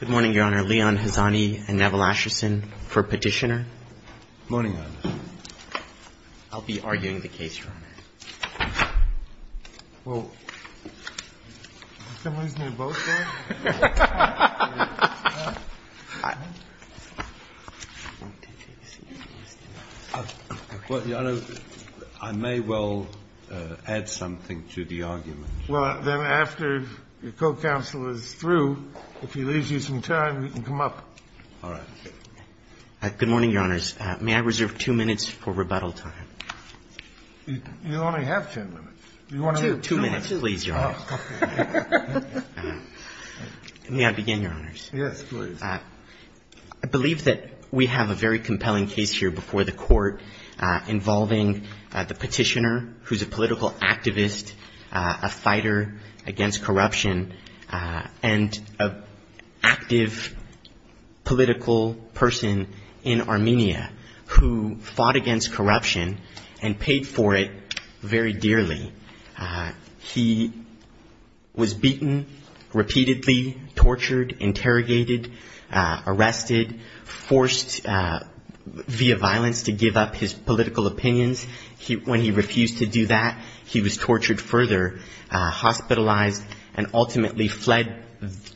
Good morning, Your Honor. Leon Hazani and Neville Asherson for Petitioner. Good morning, Your Honor. I'll be arguing the case, Your Honor. Well, can we do both, then? I may well add something to the argument. Well, then, after your co-counsel is through, if he leaves you some time, you can come up. All right. Good morning, Your Honors. May I reserve two minutes for rebuttal time? You only have ten minutes. Two. Two minutes, please, Your Honor. May I begin, Your Honors? Yes, please. I believe that we have a very compelling case here before the Court involving the petitioner, who's a political activist, a fighter against corruption, and an active political person in Armenia who fought against corruption and paid for it very dearly. He was beaten repeatedly, tortured, interrogated, arrested, forced via violence to give up his political opinions. When he refused to do that, he was tortured further, hospitalized, and ultimately fled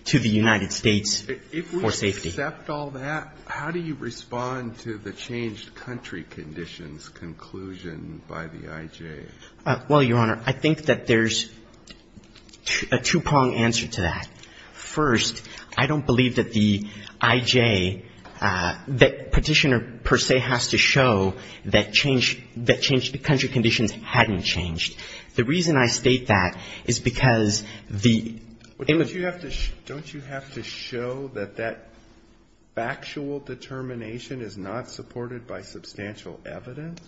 to the United States for safety. If we accept all that, how do you respond to the changed country conditions conclusion by the I.J.? Well, Your Honor, I think that there's a two-pronged answer to that. First, I don't believe that the I.J. that Petitioner per se has to show that change the country conditions hadn't changed. The reason I state that is because the image you have to show that that factual determination is not supported by substantial evidence.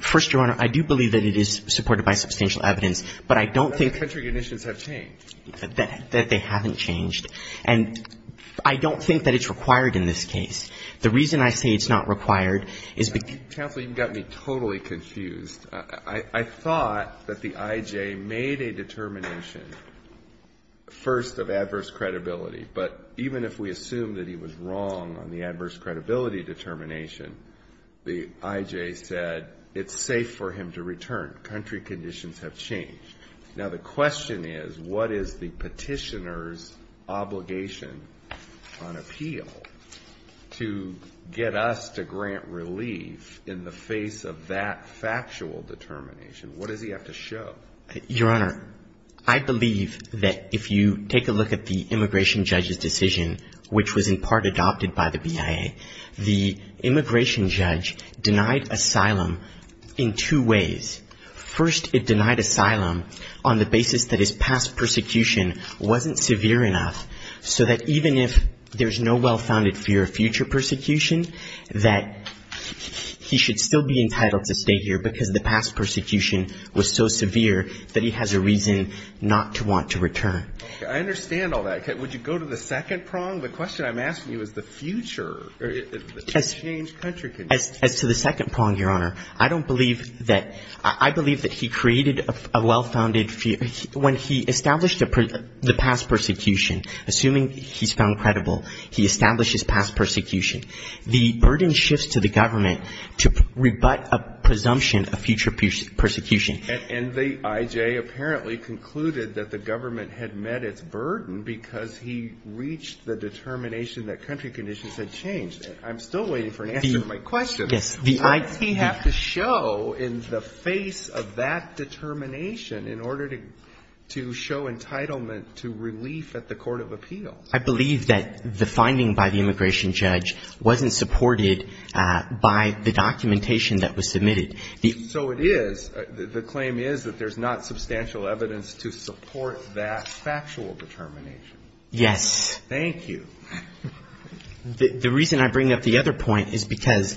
First, Your Honor, I do believe that it is supported by substantial evidence, but I don't think that country conditions have changed. That they haven't changed. And I don't think that it's required in this case. The reason I say it's not required is because Counsel, you've got me totally confused. I thought that the I.J. made a determination, first, of adverse credibility. But even if we assume that he was wrong on the adverse credibility determination, the I.J. said it's safe for him to return. Country conditions have changed. Now, the question is, what is the Petitioner's obligation on appeal to get us to grant relief in the face of that factual determination? What does he have to show? Your Honor, I believe that if you take a look at the immigration judge's decision, which was in part adopted by the BIA, the immigration judge denied asylum in two ways. First, it denied asylum on the basis that his past persecution wasn't severe enough, so that even if there's no well-founded fear of future persecution, that he should still be entitled to stay here because the past persecution was so severe that he has a reason not to want to return. Okay. I understand all that. Would you go to the second prong? The question I'm asking you is the future. As to the second prong, Your Honor, I don't believe that he created a well-founded fear. When he established the past persecution, assuming he's found credible, he established his past persecution. The burden shifts to the government to rebut a presumption of future persecution. And the I.J. apparently concluded that the government had met its burden because he reached the determination that country conditions had changed. I'm still waiting for an answer to my question. Yes. He had to show in the face of that determination in order to show entitlement to relief at the court of appeal. I believe that the finding by the immigration judge wasn't supported by the documentation that was submitted. So it is. The claim is that there's not substantial evidence to support that factual determination. Yes. Thank you. The reason I bring up the other point is because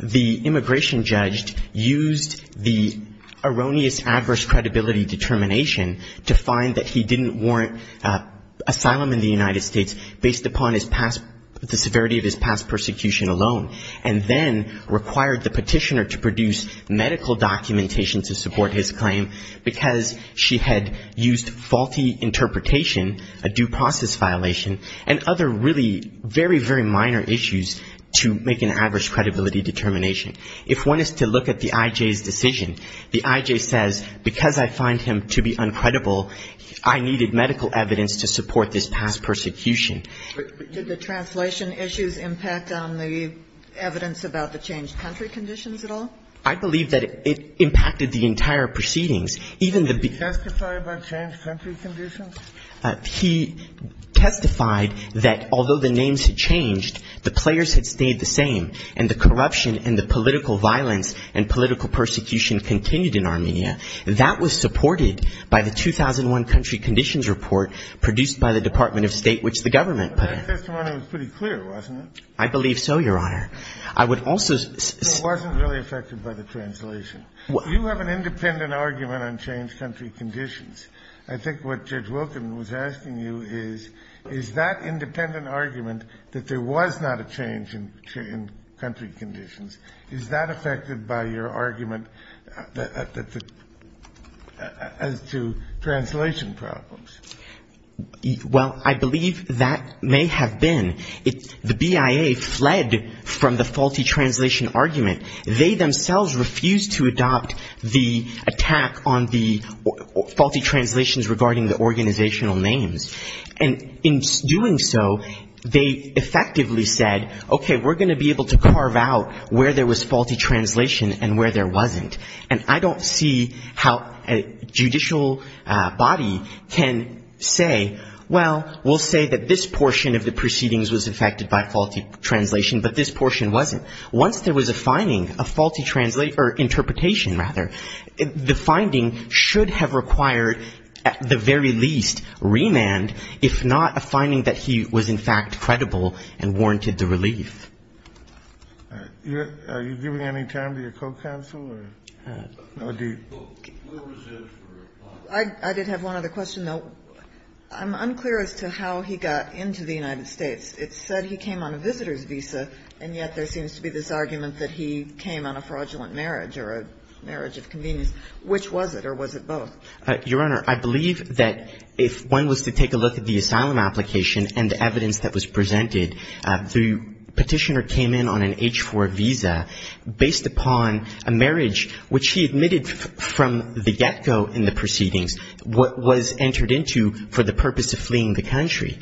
the immigration judge used the erroneous adverse credibility determination to find that he didn't warrant asylum in the United States based upon his past, the severity of his past persecution alone, and then required the petitioner to produce medical documentation to support his claim because she had used faulty interpretation, a due process violation, and other really very, very minor issues to make an adverse credibility determination. If one is to look at the I.J.'s decision, the I.J. says, because I find him to be uncredible, I needed medical evidence to support this past persecution. Did the translation issues impact on the evidence about the changed country conditions at all? I believe that it impacted the entire proceedings. Even the beginning of the case. Did he testify about changed country conditions? He testified that although the names had changed, the players had stayed the same, and the corruption and the political violence and political persecution continued in Armenia. That was supported by the 2001 country conditions report produced by the Department of State, which the government put in. That testimony was pretty clear, wasn't it? I believe so, Your Honor. I would also say... It wasn't really affected by the translation. You have an independent argument on changed country conditions. I think what Judge Wilkin was asking you is, is that independent argument that there was not a change in country conditions, is that affected by your argument as to translation problems? Well, I believe that may have been. The BIA fled from the faulty translation argument. They themselves refused to adopt the attack on the faulty translations regarding the organizational names. And in doing so, they effectively said, okay, we're going to be able to carve out where there was faulty translation and where there wasn't. And I don't see how a judicial body can say, well, we'll say that this portion of the proceedings were affected by faulty translation, but this portion wasn't. Once there was a finding, a faulty interpretation, rather, the finding should have required at the very least remand, if not a finding that he was in fact credible and warranted the relief. Are you giving any time to your co-counsel? I did have one other question, though. I'm unclear as to how he got into the United States. It said he came on a visitor's visa, and yet there seems to be this argument that he came on a fraudulent marriage or a marriage of convenience. Which was it, or was it both? Your Honor, I believe that if one was to take a look at the asylum application and the evidence that was presented, the Petitioner came in on an H-4 visa based upon which he admitted from the get-go in the proceedings what was entered into for the purpose of fleeing the country.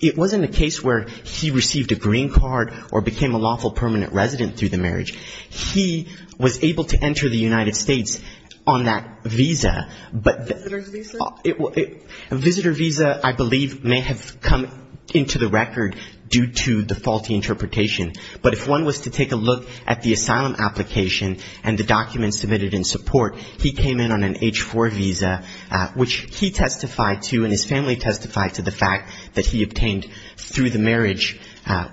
It wasn't a case where he received a green card or became a lawful permanent resident through the marriage. He was able to enter the United States on that visa. Visitor's visa? Visitor's visa, I believe, may have come into the record due to the faulty interpretation. But if one was to take a look at the asylum application and the documents submitted in support, he came in on an H-4 visa, which he testified to and his family testified to the fact that he obtained through the marriage,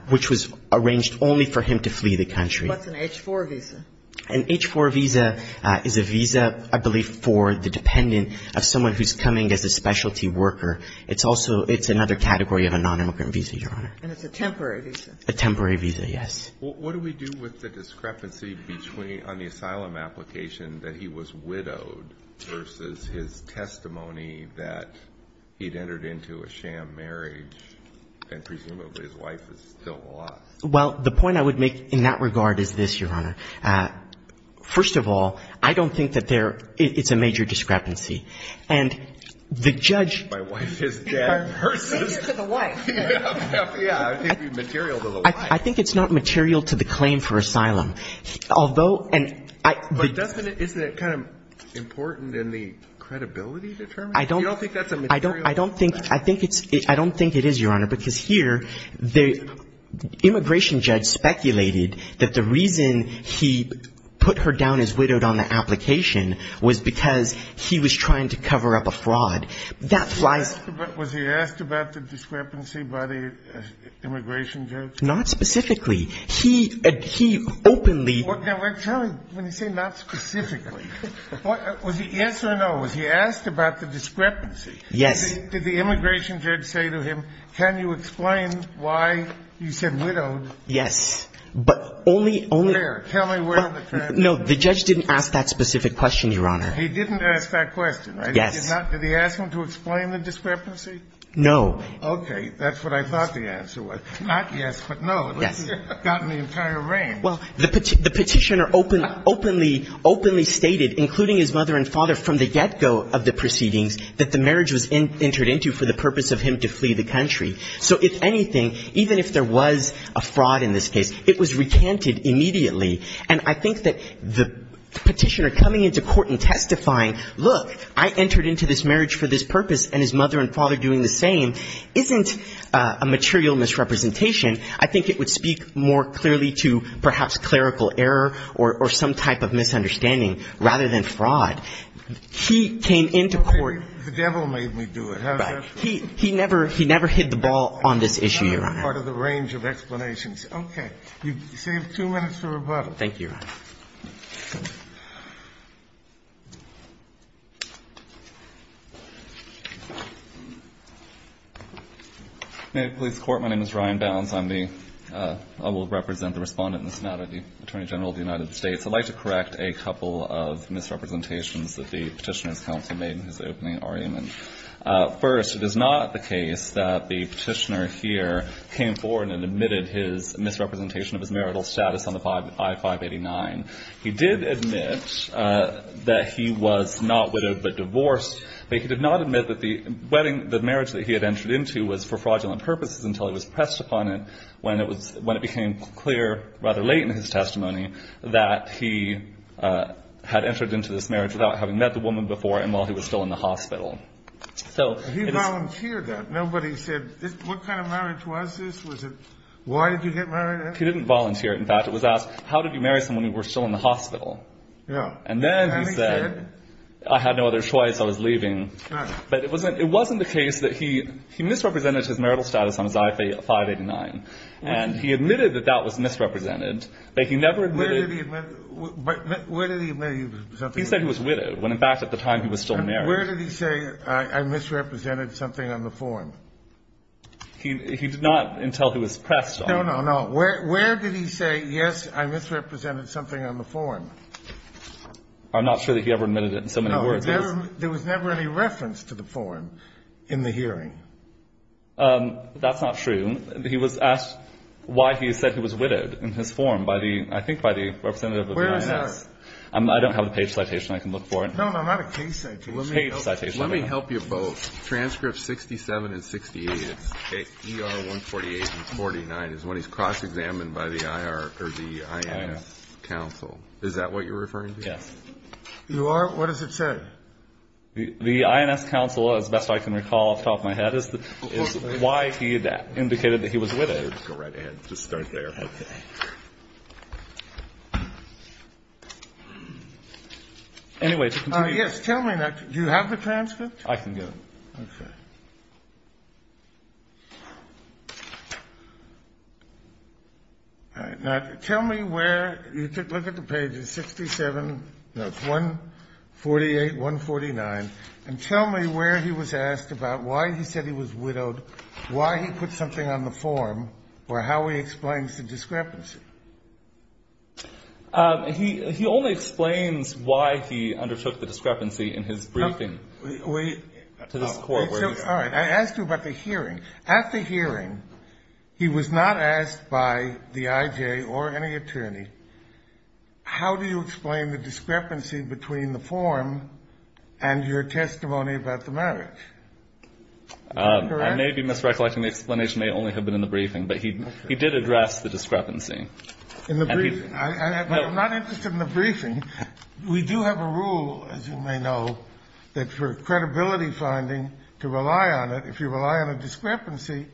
which was arranged only for him to flee the country. What's an H-4 visa? An H-4 visa is a visa, I believe, for the dependent of someone who's coming as a specialty worker. It's also another category of a nonimmigrant visa, Your Honor. And it's a temporary visa? A temporary visa, yes. Well, what do we do with the discrepancy between on the asylum application that he was widowed versus his testimony that he'd entered into a sham marriage and presumably his wife is still lost? Well, the point I would make in that regard is this, Your Honor. First of all, I don't think that there – it's a major discrepancy. And the judge – My wife is dead versus – Make it to the wife. Yeah. I think it's material to the wife. I think it's not material to the claim for asylum. Although – But doesn't it – isn't it kind of important in the credibility determination? You don't think that's a material difference? I don't think it's – I don't think it is, Your Honor, because here the immigration judge speculated that the reason he put her down as widowed on the application was because he was trying to cover up a fraud. That flies – Was he asked about the discrepancy by the immigration judge? Not specifically. He openly – Now, tell me, when you say not specifically, was he yes or no? Was he asked about the discrepancy? Yes. Did the immigration judge say to him, can you explain why you said widowed? Yes. But only – Where? Tell me where. No, the judge didn't ask that specific question, Your Honor. He didn't ask that question, right? Yes. Did he ask him to explain the discrepancy? No. Okay. That's what I thought the answer was. Not yes, but no. Yes. It got in the entire range. Well, the Petitioner openly – openly stated, including his mother and father, from the get-go of the proceedings, that the marriage was entered into for the purpose of him to flee the country. So if anything, even if there was a fraud in this case, it was recanted immediately. And I think that the Petitioner coming into court and testifying, look, I entered into this marriage for this purpose, and his mother and father are doing the same, isn't a material misrepresentation. I think it would speak more clearly to perhaps clerical error or some type of misunderstanding rather than fraud. He came into court – Okay. The devil made me do it. Right. He never – he never hit the ball on this issue, Your Honor. That's part of the range of explanations. Okay. You save two minutes for rebuttal. Thank you, Your Honor. May I please report? My name is Ryan Bounds. I'm the – I will represent the Respondent and the Sonata, the Attorney General of the United States. I'd like to correct a couple of misrepresentations that the Petitioner's counsel made in his opening argument. First, it is not the case that the Petitioner here came forward and admitted his misrepresentation of his marital status on the I-589. He did admit that he was not widowed but divorced, but he did not admit that the wedding – the marriage that he had entered into was for fraudulent purposes until it was pressed upon him when it was – when it became clear rather late in his testimony that he had entered into this marriage without having met the woman before and while he was still in the hospital. So it is – He volunteered that. Nobody said – what kind of marriage was this? Was it – why did you get married? He didn't volunteer it, in fact. It was asked, how did you marry someone who was still in the hospital? Yeah. And then he said, I had no other choice. I was leaving. But it wasn't – it wasn't the case that he – he misrepresented his marital status on his I-589. And he admitted that that was misrepresented, but he never admitted – Where did he admit – where did he admit he was something – He said he was widowed, when in fact at the time he was still married. Where did he say, I misrepresented something on the form? He did not until he was pressed on it. No, no, no. Where did he say, yes, I misrepresented something on the form? I'm not sure that he ever admitted it in so many words. No. There was never any reference to the form in the hearing. That's not true. He was asked why he said he was widowed in his form by the – I think by the representative of the IRS. Where is that? I don't have the page citation. I can look for it. No, no, not a case citation. Page citation. Let me help you both. Transcript 67 and 68, ER 148 and 49, is when he's cross-examined by the IR – or the INS counsel. Is that what you're referring to? Yes. You are? What does it say? The INS counsel, as best I can recall off the top of my head, is why he indicated that he was widowed. Go right ahead. Just start there. Okay. Anyway, to continue – Yes, tell me. Do you have the transcript? I can give it. Okay. All right. Now, tell me where – look at the page. It's 67 – no, it's 148, 149. And tell me where he was asked about why he said he was widowed, why he put something on the form, or how he explains the discrepancy. He only explains why he undertook the discrepancy in his briefing. We – To this court. All right. I asked you about the hearing. At the hearing, he was not asked by the I.J. or any attorney, how do you explain the discrepancy between the form and your testimony about the marriage? Is that correct? I may be misrecollecting. The explanation may only have been in the briefing. But he did address the discrepancy. In the briefing. I'm not interested in the briefing. We do have a rule, as you may know, that for credibility finding, to rely on it, if you rely on a discrepancy,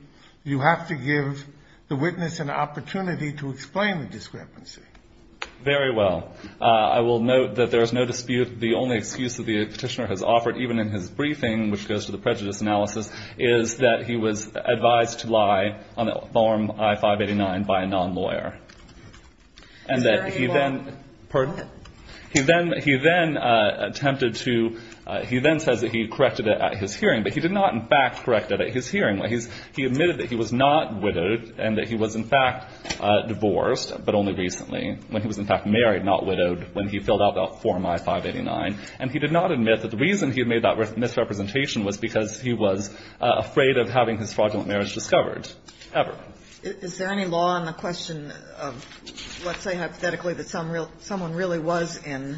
you have to give the witness an opportunity to explain the discrepancy. Very well. I will note that there is no dispute. The only excuse that the Petitioner has offered, even in his briefing, which goes to the prejudice analysis, is that he was advised to lie on the form I-589 by a non-lawyer. And that he then – he then attempted to – he then says that he corrected it at his hearing. But he did not, in fact, correct it at his hearing. He admitted that he was not widowed and that he was, in fact, divorced, but only recently, when he was, in fact, married, not widowed, when he filled out that form I-589. And he did not admit that the reason he made that misrepresentation was because he was afraid of having his fraudulent marriage discovered. Ever. Is there any law on the question of, let's say, hypothetically, that someone really was in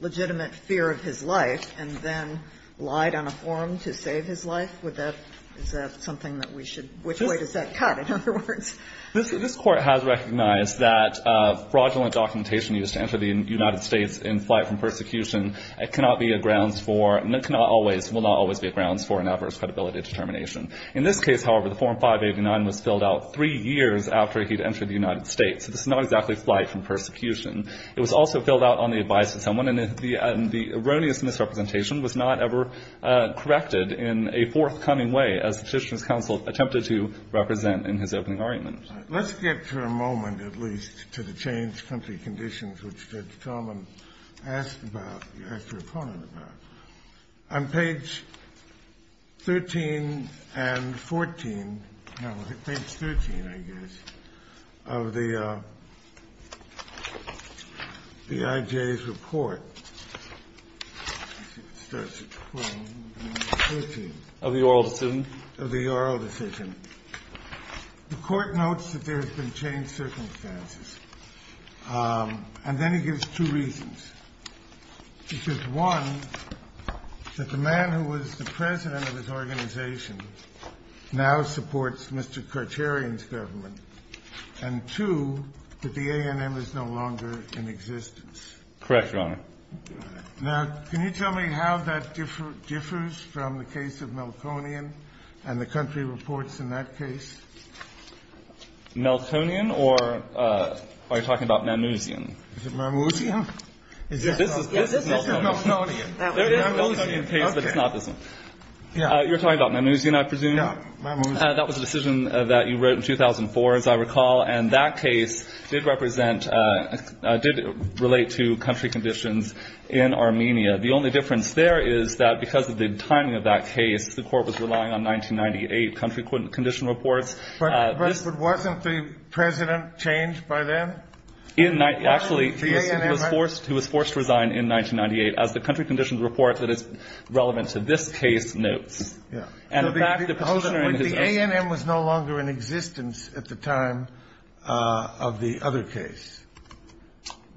legitimate fear of his life and then lied on a form to save his life? Would that – is that something that we should – which way does that cut, in other words? This Court has recognized that fraudulent documentation used to enter the United States in flight from persecution cannot be a grounds for – cannot always, will not always be a grounds for an adverse credibility determination. In this case, however, the form I-589 was filled out three years after he had entered the United States. So this is not exactly flight from persecution. It was also filled out on the advice of someone. And the erroneous misrepresentation was not ever corrected in a forthcoming way, as the Judiciary's counsel attempted to represent in his opening argument. Let's get for a moment, at least, to the changed country conditions, which Judge Tolman asked about, asked her opponent about. On page 13 and 14 – no, page 13, I guess, of the IJ's report, let's see if it starts at 12 and 13. Of the oral decision? Of the oral decision. The Court notes that there have been changed circumstances. And then he gives two reasons. He gives one, that the man who was the president of his organization now supports Mr. Karcharian's government. And two, that the A&M is no longer in existence. Correct, Your Honor. Now, can you tell me how that differs from the case of Melkonian and the country conditions that were presented to the Court in that case? Melkonian, or are you talking about Mamouzian? Is it Mamouzian? This is Melkonian. This is Melkonian. There is a Melkonian case, but it's not this one. Yeah. You're talking about Mamouzian, I presume. Yeah. Mamouzian. That was a decision that you wrote in 2004, as I recall. And that case did represent – did relate to country conditions in Armenia. The only difference there is that because of the timing of that case, the Court was relying on 1998 country condition reports. But wasn't the president changed by then? Actually, he was forced to resign in 1998, as the country conditions report that is relevant to this case notes. And, in fact, the position – But the A&M was no longer in existence at the time of the other case,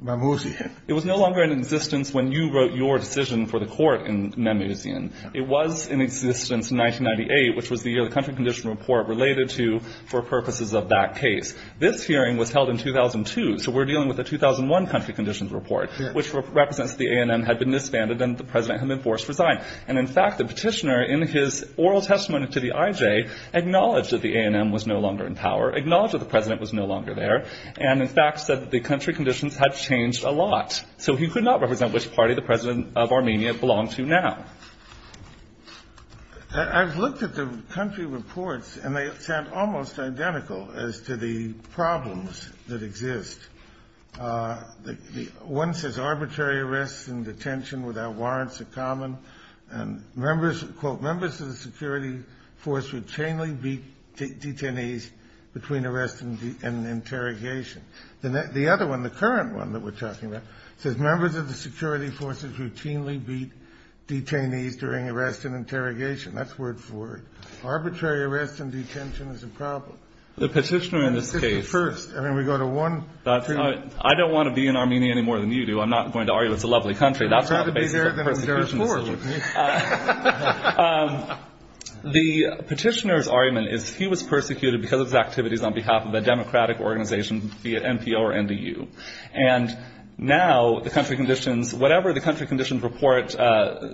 Mamouzian. It was no longer in existence when you wrote your decision for the Court in Mamouzian. It was in existence in 1998, which was the year the country condition report related to for purposes of that case. This hearing was held in 2002, so we're dealing with a 2001 country conditions report, which represents the A&M had been disbanded and the president had been forced to resign. And, in fact, the petitioner, in his oral testimony to the IJ, acknowledged that the A&M was no longer in power, acknowledged that the president was no longer there, and, in fact, said that the country conditions had changed a lot. So he could not represent which party the president of Armenia belonged to now. I've looked at the country reports, and they sound almost identical as to the problems that exist. One says arbitrary arrests and detention without warrants are common. And, quote, members of the security force would chain-link detainees between arrest and interrogation. The other one, the current one that we're talking about, says members of the security forces routinely beat detainees during arrest and interrogation. That's word for word. Arbitrary arrests and detention is a problem. The petitioner in this case- The petitioner first. I mean, we go to one- I don't want to be in Armenia any more than you do. I'm not going to argue it's a lovely country. That's not the basis of the persecution decision. I'd rather be there than in Dar es Salaam. The petitioner's argument is he was persecuted because of his activities on behalf of a democratic organization via NPO or NDU. And now the country conditions, whatever the country conditions report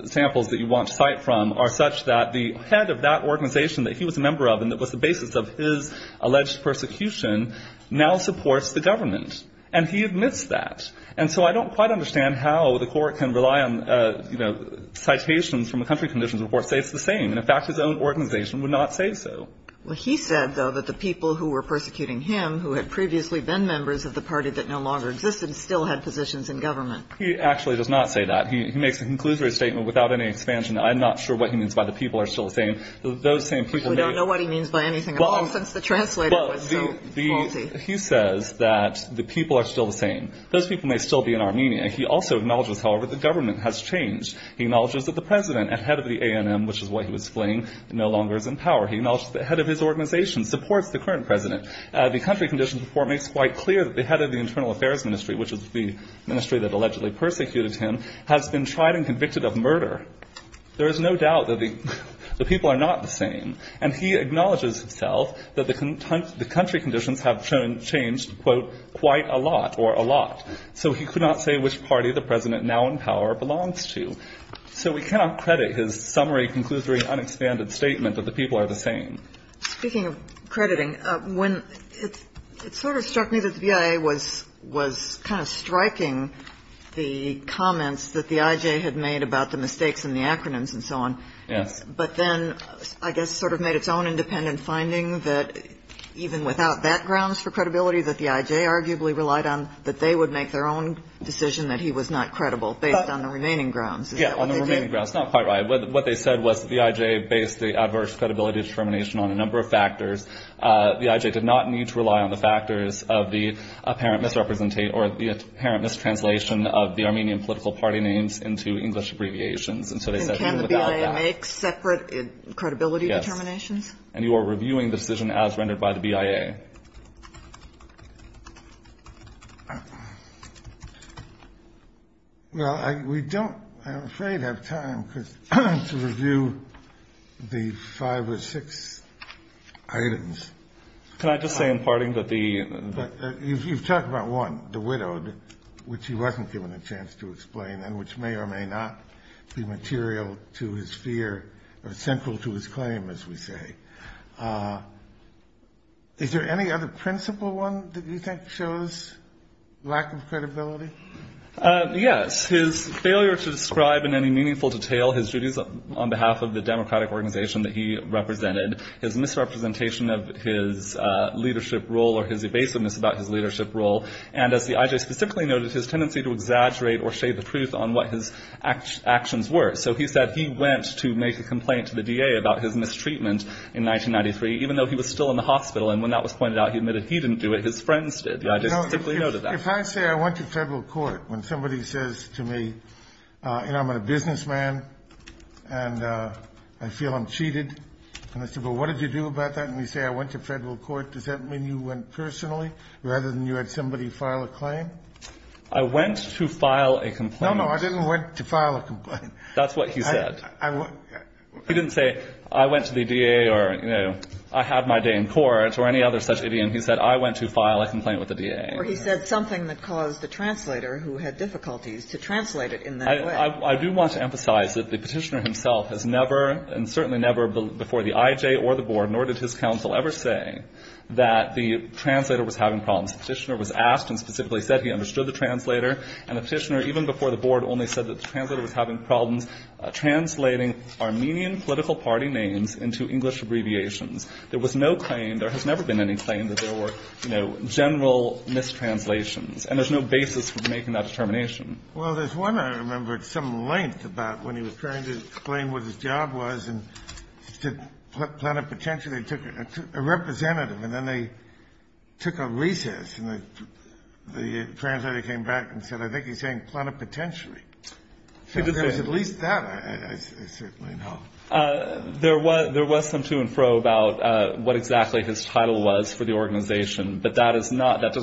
samples that you want to cite from, are such that the head of that organization that he was a member of and that was the basis of his alleged persecution now supports the government. And he admits that. And so I don't quite understand how the court can rely on, you know, citations from a country conditions report to say it's the same. In fact, his own organization would not say so. Well, he said, though, that the people who were persecuting him, who had previously been members of the party that no longer existed, still had positions in government. He actually does not say that. He makes a conclusory statement without any expansion. I'm not sure what he means by the people are still the same. Those same people may- We don't know what he means by anything at all since the translator was so faulty. He says that the people are still the same. Those people may still be in Armenia. He also acknowledges, however, the government has changed. He acknowledges that the president, ahead of the ANM, which is what he was fleeing, no longer is in power. He acknowledges the head of his organization supports the current president. The country conditions report makes quite clear that the head of the internal affairs ministry, which is the ministry that allegedly persecuted him, has been tried and convicted of murder. There is no doubt that the people are not the same. And he acknowledges himself that the country conditions have changed, quote, quite a lot or a lot. So he could not say which party the president now in power belongs to. So we cannot credit his summary, conclusory, unexpanded statement that the people are the same. Speaking of crediting, when it sort of struck me that the BIA was kind of striking the comments that the I.J. had made about the mistakes in the acronyms and so on. Yes. But then I guess sort of made its own independent finding that even without that grounds for credibility that the I.J. arguably relied on, that they would make their own decision that he was not credible based on the remaining grounds. Yeah, on the remaining grounds. Not quite right. What they said was the I.J. based the adverse credibility determination on a number of factors. The I.J. did not need to rely on the factors of the apparent misrepresentation or the apparent mistranslation of the Armenian political party names into English abbreviations. And so they said even without that. And can the BIA make separate credibility determinations? Yes. And you are reviewing the decision as rendered by the BIA. Well, we don't, I'm afraid, have time to review the five or six items. Can I just say in parting that the... You've talked about one, the widowed, which he wasn't given a chance to explain and which may or may not be material to his fear or central to his claim, as we say. Is there any other principle one that you think shows lack of credibility? Yes. His failure to describe in any meaningful detail his duties on behalf of the democratic organization that he represented. His misrepresentation of his leadership role or his evasiveness about his leadership role. And as the I.J. specifically noted, his tendency to exaggerate or shade the truth on what his actions were. So he said he went to make a complaint to the DA about his mistreatment in 1993, even though he was still in the hospital. And when that was pointed out, he admitted he didn't do it. His friends did. The I.J. specifically noted that. If I say I went to federal court when somebody says to me, you know, I'm a businessman and I feel I'm cheated, and I say, well, what did you do about that? And you say I went to federal court. Does that mean you went personally rather than you had somebody file a claim? I went to file a complaint. No, no, I didn't went to file a complaint. That's what he said. He didn't say I went to the DA or, you know, I had my day in court or any other such idiom. He said I went to file a complaint with the DA. Or he said something that caused the translator, who had difficulties, to translate it in that way. I do want to emphasize that the Petitioner himself has never, and certainly never before the I.J. or the Board, nor did his counsel ever say that the translator was having problems. The Petitioner was asked and specifically said he understood the translator. And the Petitioner, even before the Board, only said that the translator was having problems translating Armenian political party names into English abbreviations. There was no claim. There has never been any claim that there were, you know, general mistranslations. And there's no basis for making that determination. Kennedy. Well, there's one I remember at some length about when he was trying to explain what his job was and to put plenipotentiary, they took a representative and then they took a recess and the translator came back and said, I think he's saying plenipotentiary. So there was at least that, I certainly know. There was some to and fro about what exactly his title was for the organization. But that does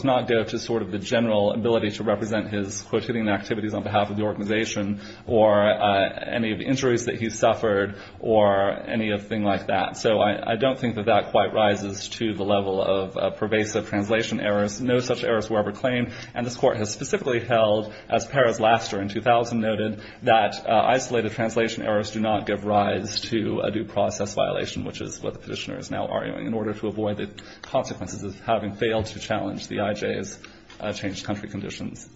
not go to sort of the general ability to represent his quotidian activities on behalf of the organization or any of the injuries that he suffered or anything like that. So I don't think that that quite rises to the level of pervasive translation errors. No such errors were ever claimed. And this Court has specifically held, as Perez-Laster in 2000 noted, that isolated translation errors do not give rise to a due process violation, which is what the Petitioner is now arguing, in order to avoid the consequences of having failed to challenge the IJ's changed country conditions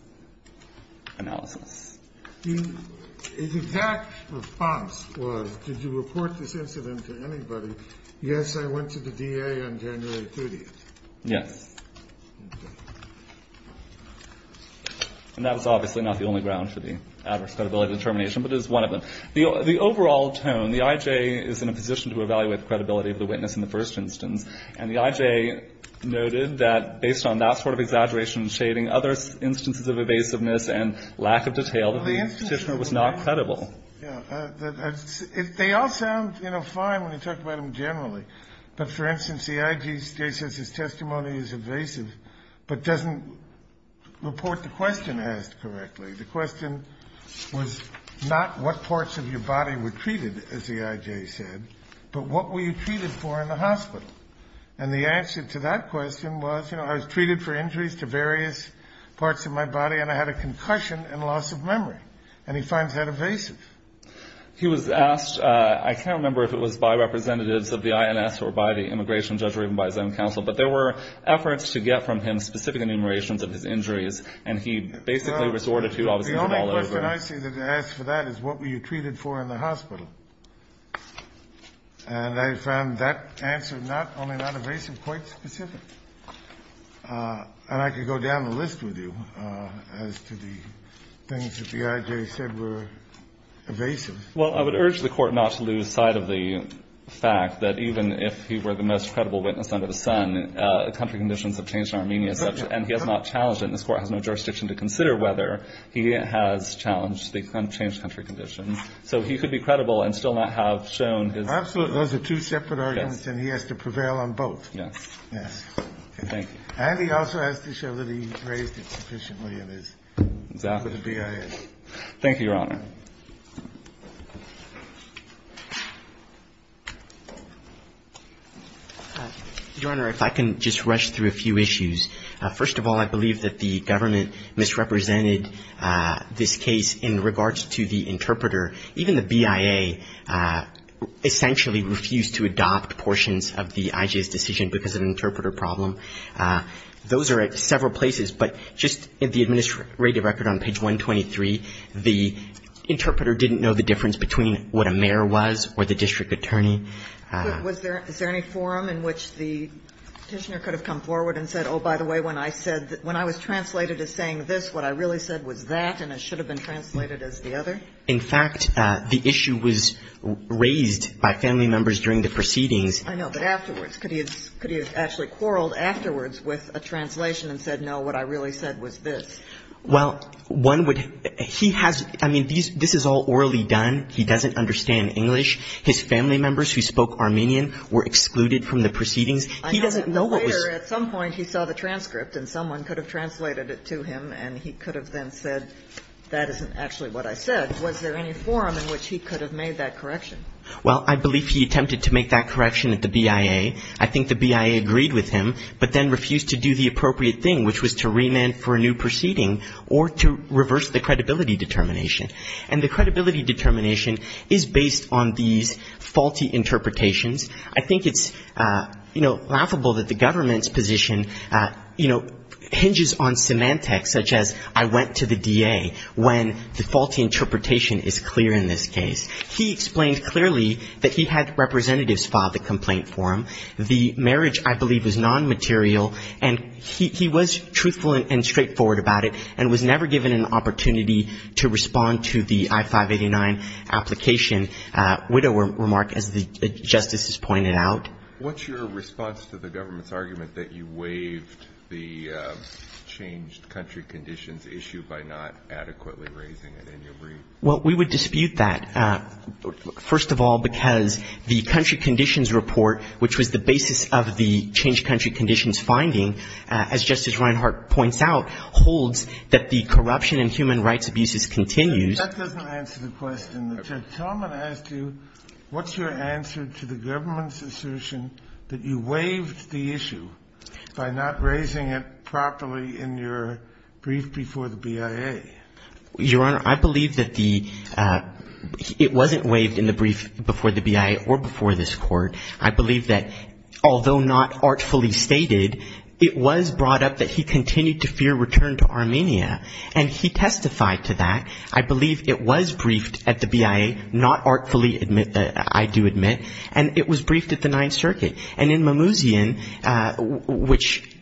analysis. His exact response was, did you report this incident to anybody? Yes, I went to the DA on January 30th. Yes. And that was obviously not the only ground for the adverse credibility determination, but it is one of them. The overall tone, the IJ is in a position to evaluate the credibility of the witness in the first instance, and the IJ noted that based on that sort of exaggeration and shading, other instances of evasiveness and lack of detail, that the Petitioner was not credible. They all sound, you know, fine when you talk about them generally. But for instance, the IJ says his testimony is evasive, but doesn't report the question asked correctly. The question was not what parts of your body were treated, as the IJ said, but what were you treated for in the hospital. And the answer to that question was, you know, I was treated for injuries to various parts of my body and I had a concussion and loss of memory. And he finds that evasive. He was asked, I can't remember if it was by representatives of the INS or by the immigration judge or even by his own counsel, but there were efforts to get from him specific enumerations of his injuries, and he basically resorted to all of them. The only question I see that they ask for that is what were you treated for in the hospital. And I found that answer not only not evasive, quite specific. And I could go down the list with you as to the things that the IJ said were evasive. Well, I would urge the Court not to lose sight of the fact that even if he were the most credible witness under the sun, country conditions have changed in Armenia, and he has not challenged it, and this Court has no jurisdiction to consider whether he has challenged the unchanged country conditions. So he could be credible and still not have shown his. Absolutely. Those are two separate arguments, and he has to prevail on both. Yes. Yes. Thank you. And he also has to show that he raised it sufficiently in his. Exactly. For the BIS. Thank you, Your Honor. Your Honor, if I can just rush through a few issues. First of all, I believe that the government misrepresented this case in regards to the interpreter. Even the BIA essentially refused to adopt portions of the IJ's decision because of an interpreter problem. Those are at several places, but just in the administrative record on page 123, the interpreter didn't know the difference between what a mayor was or the district attorney. Was there any forum in which the petitioner could have come forward and said, oh, by the way, when I said, when I was translated as saying this, what I really said was that, and it should have been translated as the other? In fact, the issue was raised by family members during the proceedings. I know, but afterwards, could he have actually quarreled afterwards with a translation and said, no, what I really said was this? Well, one would he has, I mean, this is all orally done. He doesn't understand English. His family members who spoke Armenian were excluded from the proceedings. He doesn't know what was going on. I know that later at some point he saw the transcript and someone could have translated it to him, and he could have then said, that isn't actually what I said. Was there any forum in which he could have made that correction? Well, I believe he attempted to make that correction at the BIA. I think the BIA agreed with him, but then refused to do the appropriate thing, which was to remand for a new proceeding or to reverse the credibility determination. And the credibility determination is based on these faulty interpretations. I think it's, you know, laughable that the government's position, you know, hinges on semantics, such as I went to the DA when the faulty interpretation is clear in this case. He explained clearly that he had representatives file the complaint for him. The marriage, I believe, was nonmaterial, and he was truthful and straightforward about it and was never given an opportunity to respond to the I-589 application. Widower remark, as the Justice has pointed out. What's your response to the government's argument that you waived the changed country conditions issue by not adequately raising it in your brief? Well, we would dispute that, first of all, because the country conditions report, which was the basis of the changed country conditions finding, as Justice Reinhart points out, holds that the corruption in human rights abuses continues. That doesn't answer the question. The gentleman asked you what's your answer to the government's assertion that you waived the issue by not raising it properly in your brief before the BIA? Your Honor, I believe that the — it wasn't waived in the brief before the BIA or before this Court. I believe that although not artfully stated, it was brought up that he continued to fear return to Armenia, and he testified to that. I believe it was briefed at the BIA, not artfully, I do admit, and it was briefed at the Ninth Circuit. And in Mimousian, which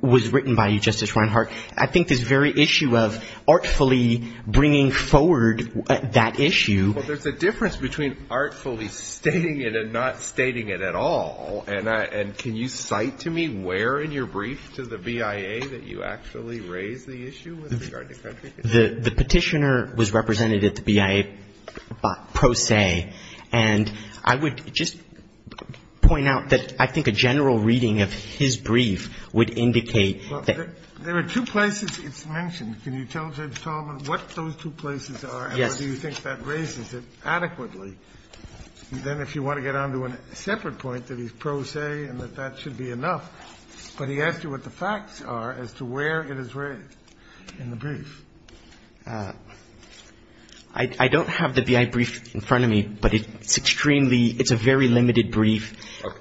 was written by you, Justice Reinhart, I think this very issue of artfully bringing forward that issue — I'm not stating it at all. And I — and can you cite to me where in your brief to the BIA that you actually raised the issue with regard to country conditions? The Petitioner was represented at the BIA pro se, and I would just point out that I think a general reading of his brief would indicate that — Well, there are two places it's mentioned. Can you tell the gentleman what those two places are? Yes. Do you think that raises it adequately? Then if you want to get on to a separate point, that he's pro se and that that should be enough, but he asked you what the facts are as to where it is raised in the brief. I don't have the BIA brief in front of me, but it's extremely — it's a very limited brief.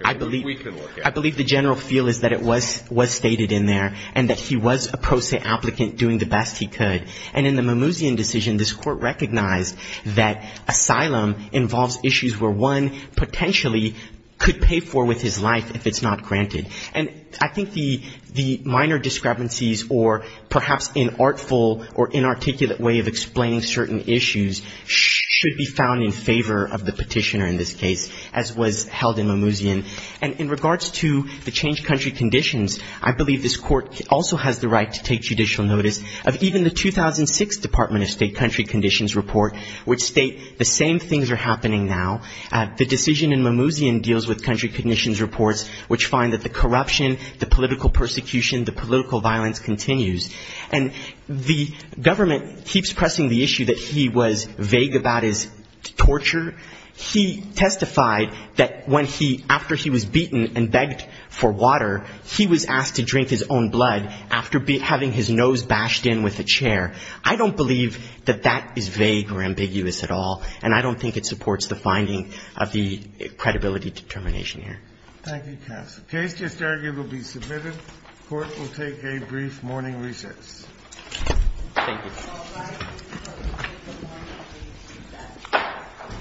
I believe — Okay. We can look at it. I believe the general feel is that it was stated in there and that he was a pro se applicant doing the best he could. And in the Mimouzian decision, this Court recognized that asylum involves issues where one potentially could pay for with his life if it's not granted. And I think the minor discrepancies or perhaps inartful or inarticulate way of explaining certain issues should be found in favor of the Petitioner in this case, as was held in Mimouzian. And in regards to the changed country conditions, I believe this Court also has the right to take judicial notice of even the 2006 Department of State country conditions report, which state the same things are happening now. The decision in Mimouzian deals with country conditions reports, which find that the corruption, the political persecution, the political violence continues. And the government keeps pressing the issue that he was vague about his torture. He testified that when he — after he was beaten and begged for water, he was asked to drink his own blood after having his nose bashed in with a chair. I don't believe that that is vague or ambiguous at all, and I don't think it supports the finding of the credibility determination here. Thank you, counsel. The case just argued will be submitted. The Court will take a brief morning recess. Thank you.